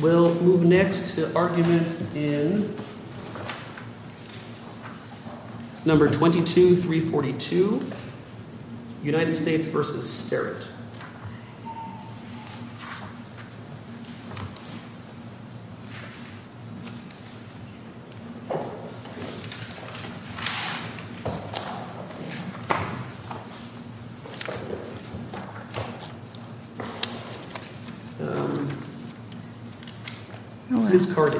We'll move next to argument in No. 22-342, United States v. Sterritt. Ms. Cardi.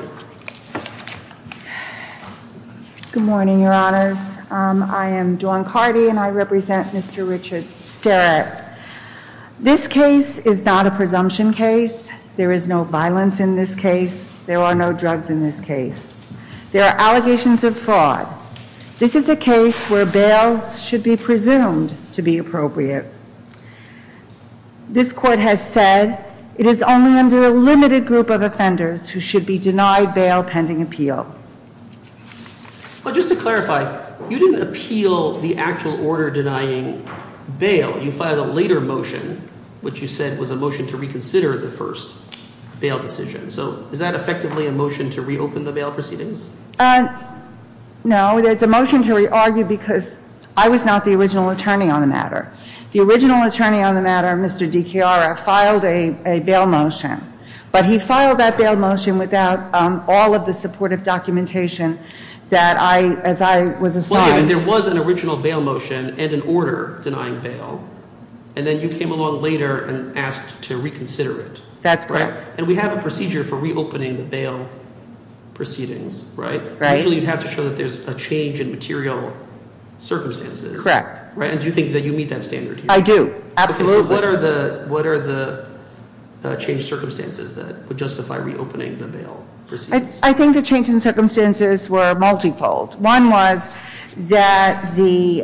Good morning, Your Honors. I am Dawn Cardi, and I represent Mr. Richard Sterritt. This case is not a presumption case. There is no violence in this case. There are no drugs in this case. There are allegations of fraud. This is a case where bail should be presumed to be appropriate. This Court has said it is only under a limited group of offenders who should be denied bail pending appeal. But just to clarify, you didn't appeal the actual order denying bail. You filed a later motion, which you said was a motion to reconsider the first bail decision. So is that effectively a motion to reopen the bail proceedings? No, it's a motion to re-argue because I was not the original attorney on the matter. The original attorney on the matter, Mr. DiChiara, filed a bail motion. But he filed that bail motion without all of the supportive documentation that I, as I was assigned. There was an original bail motion and an order denying bail, and then you came along later and asked to reconsider it. That's correct. And we have a procedure for reopening the bail proceedings, right? Usually you'd have to show that there's a change in material circumstances. Correct. And do you think that you meet that standard here? I do, absolutely. Okay, so what are the change circumstances that would justify reopening the bail proceedings? I think the change in circumstances were multifold. One was that the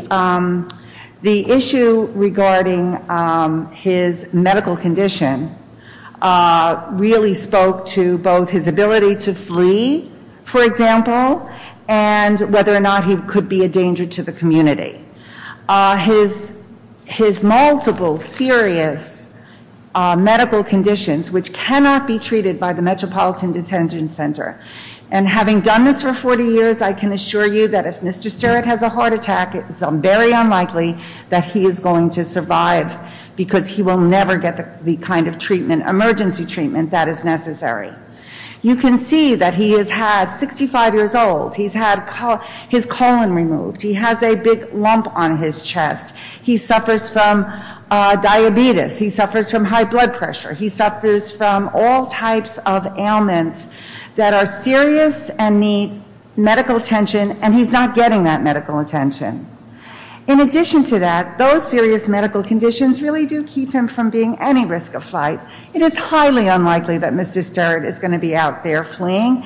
issue regarding his medical condition really spoke to both his ability to flee, for example, and whether or not he could be a danger to the community. His multiple serious medical conditions, which cannot be treated by the Metropolitan Detention Center, and having done this for 40 years, I can assure you that if Mr. Sterritt has a heart attack, it's very unlikely that he is going to survive because he will never get the kind of emergency treatment that is necessary. You can see that he is 65 years old. He's had his colon removed. He has a big lump on his chest. He suffers from diabetes. He suffers from high blood pressure. He suffers from all types of ailments that are serious and need medical attention, and he's not getting that medical attention. In addition to that, those serious medical conditions really do keep him from being any risk of flight. It is highly unlikely that Mr. Sterritt is going to be out there fleeing.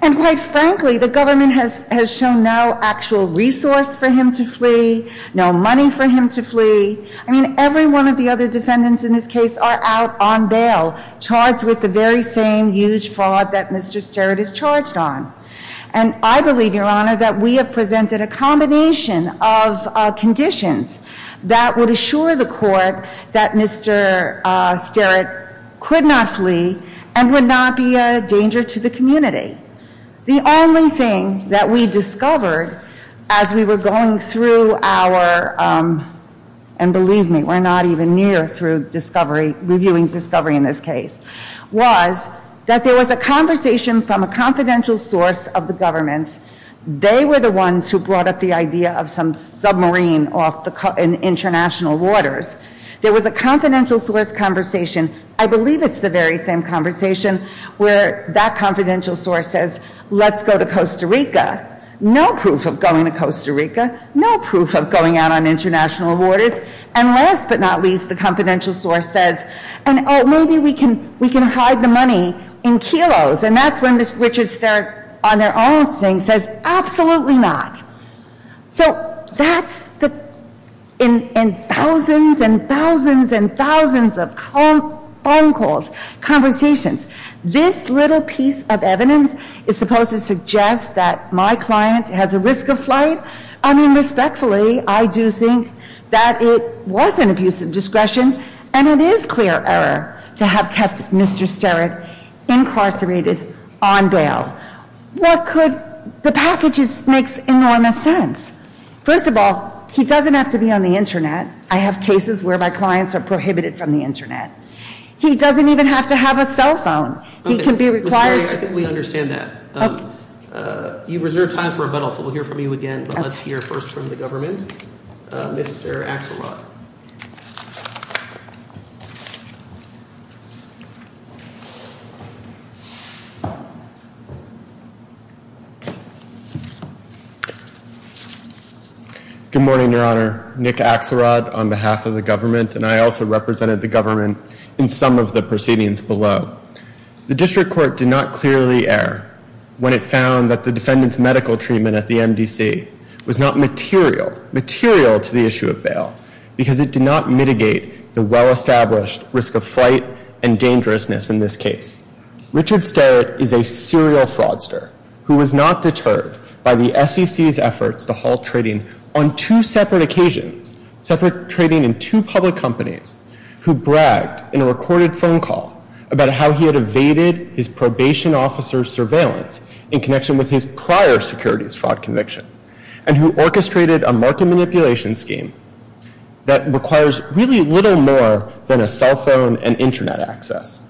And quite frankly, the government has shown no actual resource for him to flee, no money for him to flee. I mean, every one of the other defendants in this case are out on bail charged with the very same huge fraud that Mr. Sterritt is charged on. And I believe, Your Honor, that we have presented a combination of conditions that would assure the court that Mr. Sterritt could not flee and would not be a danger to the community. The only thing that we discovered as we were going through our, and believe me, we're not even near through discovery, reviewing discovery in this case, was that there was a conversation from a confidential source of the government. They were the ones who brought up the idea of some submarine off in international waters. There was a confidential source conversation. I believe it's the very same conversation where that confidential source says, let's go to Costa Rica. No proof of going to Costa Rica. No proof of going out on international waters. And last but not least, the confidential source says, oh, maybe we can hide the money in kilos. And that's when Mr. Richard Sterritt, on their own saying, says, absolutely not. So that's the, in thousands and thousands and thousands of phone calls, conversations, this little piece of evidence is supposed to suggest that my client has a risk of flight? I mean, respectfully, I do think that it was an abuse of discretion, and it is clear error to have kept Mr. Sterritt incarcerated on bail. What could, the package makes enormous sense. First of all, he doesn't have to be on the Internet. I have cases where my clients are prohibited from the Internet. He doesn't even have to have a cell phone. He can be required to- Okay, Ms. Berry, I think we understand that. Okay. You've reserved time for rebuttal, so we'll hear from you again, but let's hear first from the government. Mr. Axelrod. Good morning, Your Honor. Nick Axelrod on behalf of the government, and I also represented the government in some of the proceedings below. The district court did not clearly err when it found that the defendant's medical treatment at the MDC was not material, material to the issue of bail, because it did not mitigate the well-established risk of flight and dangerousness in this case. Richard Sterritt is a serial fraudster who was not deterred by the SEC's efforts to halt trading on two separate occasions, separate trading in two public companies, who bragged in a recorded phone call about how he had evaded his probation officer's surveillance in connection with his prior securities fraud conviction, and who orchestrated a market manipulation scheme that requires really little more than a cell phone and Internet access.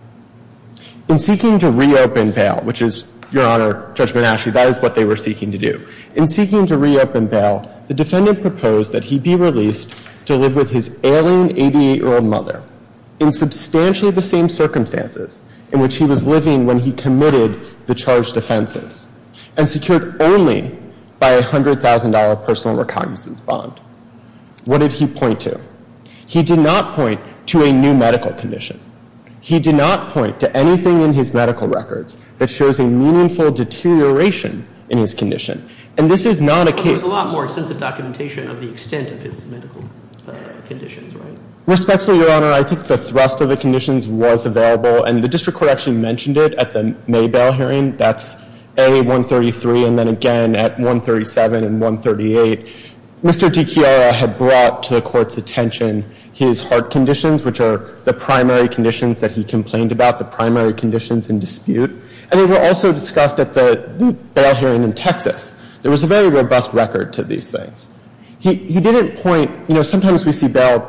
In seeking to reopen bail, which is, Your Honor, Judge Monashi, that is what they were seeking to do. In seeking to reopen bail, the defendant proposed that he be released to live with his alien 88-year-old mother in substantially the same circumstances in which he was living when he committed the charged offenses, and secured only by a $100,000 personal recognizance bond. What did he point to? He did not point to a new medical condition. He did not point to anything in his medical records that shows a meaningful deterioration in his condition. And this is not a case— But there's a lot more extensive documentation of the extent of his medical conditions, right? Respectfully, Your Honor, I think the thrust of the conditions was available, and the district court actually mentioned it at the May bail hearing. That's A, 133, and then again at 137 and 138. Mr. DiChiara had brought to the court's attention his heart conditions, which are the primary conditions that he complained about, the primary conditions in dispute. And they were also discussed at the bail hearing in Texas. There was a very robust record to these things. He didn't point—you know, sometimes we see bail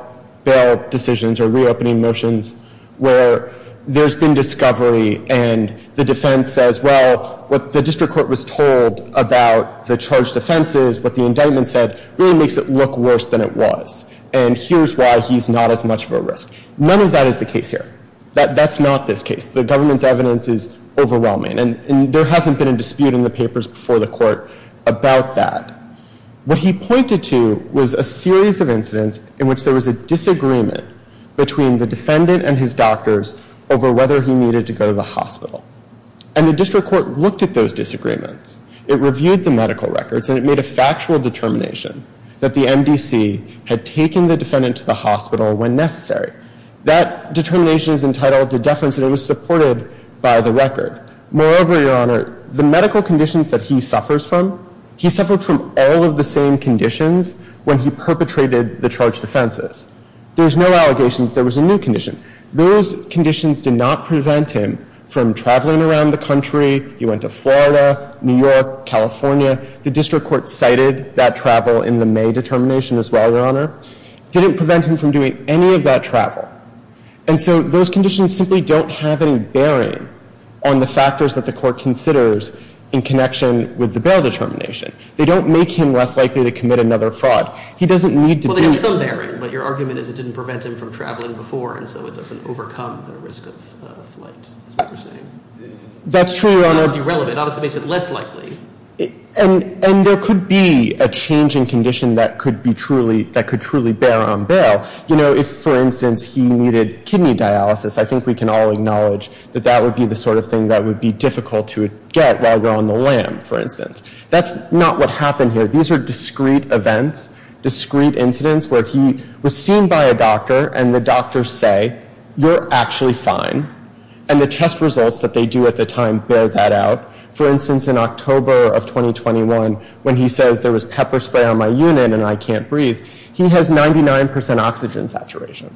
decisions or reopening motions where there's been discovery and the defense says, well, what the district court was told about the charged offenses, what the indictment said, really makes it look worse than it was. And here's why he's not as much of a risk. None of that is the case here. That's not this case. The government's evidence is overwhelming. And there hasn't been a dispute in the papers before the court about that. What he pointed to was a series of incidents in which there was a disagreement between the defendant and his doctors over whether he needed to go to the hospital. And the district court looked at those disagreements. It reviewed the medical records, and it made a factual determination that the MDC had taken the defendant to the hospital when necessary. That determination is entitled to deference, and it was supported by the record. Moreover, Your Honor, the medical conditions that he suffers from, he suffered from all of the same conditions when he perpetrated the charged offenses. There was no allegation that there was a new condition. Those conditions did not prevent him from traveling around the country. He went to Florida, New York, California. The district court cited that travel in the May determination as well, Your Honor. It didn't prevent him from doing any of that travel. And so those conditions simply don't have any bearing on the factors that the court considers in connection with the bail determination. They don't make him less likely to commit another fraud. He doesn't need to be. There is some bearing, but your argument is it didn't prevent him from traveling before, and so it doesn't overcome the risk of flight, is what you're saying. That's true, Your Honor. It's irrelevant. It obviously makes it less likely. And there could be a change in condition that could truly bear on bail. You know, if, for instance, he needed kidney dialysis, I think we can all acknowledge that that would be the sort of thing that would be difficult to get while you're on the lam, for instance. That's not what happened here. These are discrete events, discrete incidents where he was seen by a doctor and the doctors say, You're actually fine. And the test results that they do at the time bear that out. For instance, in October of 2021, when he says there was pepper spray on my unit and I can't breathe, he has 99% oxygen saturation.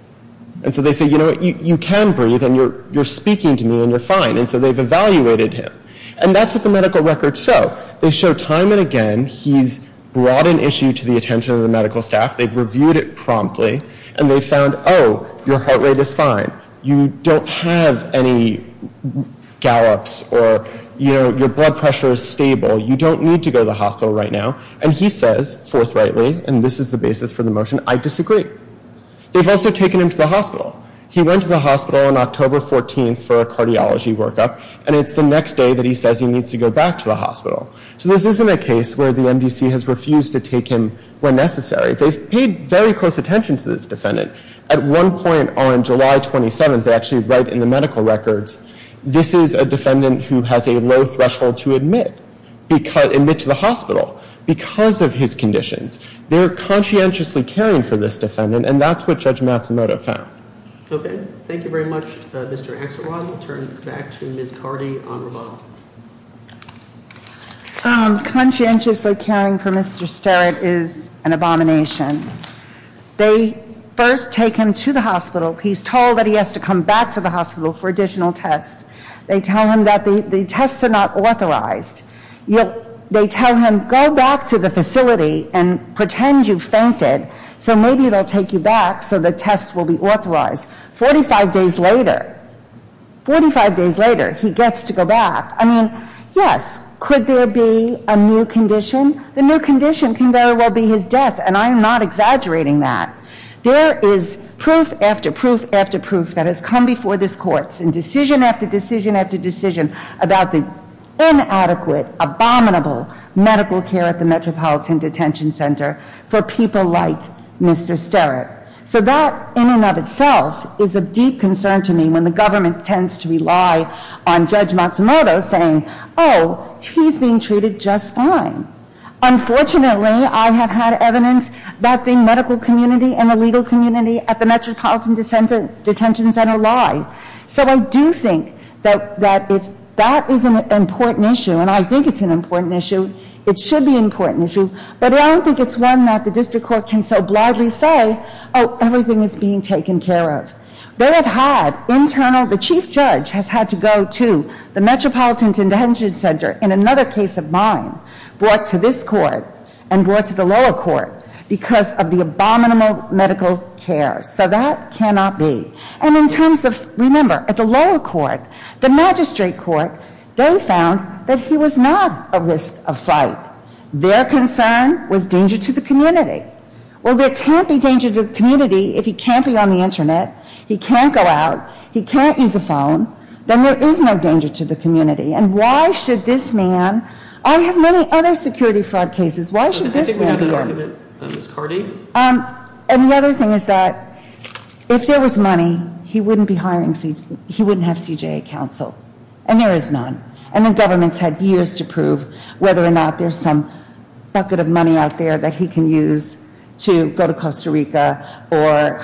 And so they say, You know what? You can breathe and you're speaking to me and you're fine. And so they've evaluated him. And that's what the medical records show. They show time and again he's brought an issue to the attention of the medical staff. They've reviewed it promptly. And they found, Oh, your heart rate is fine. You don't have any gallops or, you know, your blood pressure is stable. You don't need to go to the hospital right now. And he says forthrightly, and this is the basis for the motion, I disagree. They've also taken him to the hospital. He went to the hospital on October 14th for a cardiology workup, and it's the next day that he says he needs to go back to the hospital. So this isn't a case where the MDC has refused to take him where necessary. They've paid very close attention to this defendant. At one point on July 27th, they actually write in the medical records, This is a defendant who has a low threshold to admit to the hospital because of his conditions. They're conscientiously caring for this defendant, and that's what Judge Matsumoto found. Okay. Thank you very much, Mr. Axelrod. We'll turn it back to Ms. Cardi on rebuttal. Conscientiously caring for Mr. Sterrett is an abomination. They first take him to the hospital. He's told that he has to come back to the hospital for additional tests. They tell him that the tests are not authorized. They tell him, Go back to the facility and pretend you fainted, so maybe they'll take you back so the tests will be authorized. Forty-five days later, he gets to go back. I mean, yes, could there be a new condition? The new condition can very well be his death, and I am not exaggerating that. There is proof after proof after proof that has come before this Court in decision after decision after decision about the inadequate, abominable medical care at the Metropolitan Detention Center for people like Mr. Sterrett. So that in and of itself is of deep concern to me when the government tends to rely on Judge Matsumoto saying, Oh, he's being treated just fine. Unfortunately, I have had evidence that the medical community and the legal community at the Metropolitan Detention Center lie. So I do think that if that is an important issue, and I think it's an important issue, it should be an important issue, but I don't think it's one that the district court can so blithely say, Oh, everything is being taken care of. They have had internal, the chief judge has had to go to the Metropolitan Detention Center, in another case of mine, brought to this court and brought to the lower court because of the abominable medical care. So that cannot be. And in terms of, remember, at the lower court, the magistrate court, they found that he was not a risk of fight. Their concern was danger to the community. Well, there can't be danger to the community if he can't be on the Internet, he can't go out, he can't use a phone. Then there is no danger to the community. And why should this man, I have many other security fraud cases, why should this man be here? I think we need an argument, Ms. Cardi. And the other thing is that if there was money, he wouldn't be hiring, he wouldn't have CJA counsel. And there is none. And the government's had years to prove whether or not there's some bucket of money out there that he can use to go to Costa Rica or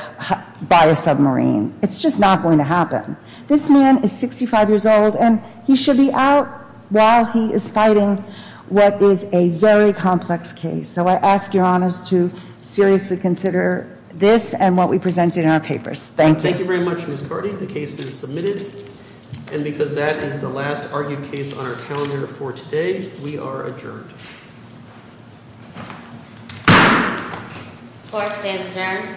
buy a submarine. It's just not going to happen. This man is 65 years old and he should be out while he is fighting what is a very complex case. So I ask your honors to seriously consider this and what we presented in our papers. Thank you. Thank you very much, Ms. Cardi. The case is submitted. And because that is the last argued case on our calendar for today, we are adjourned. Court is adjourned.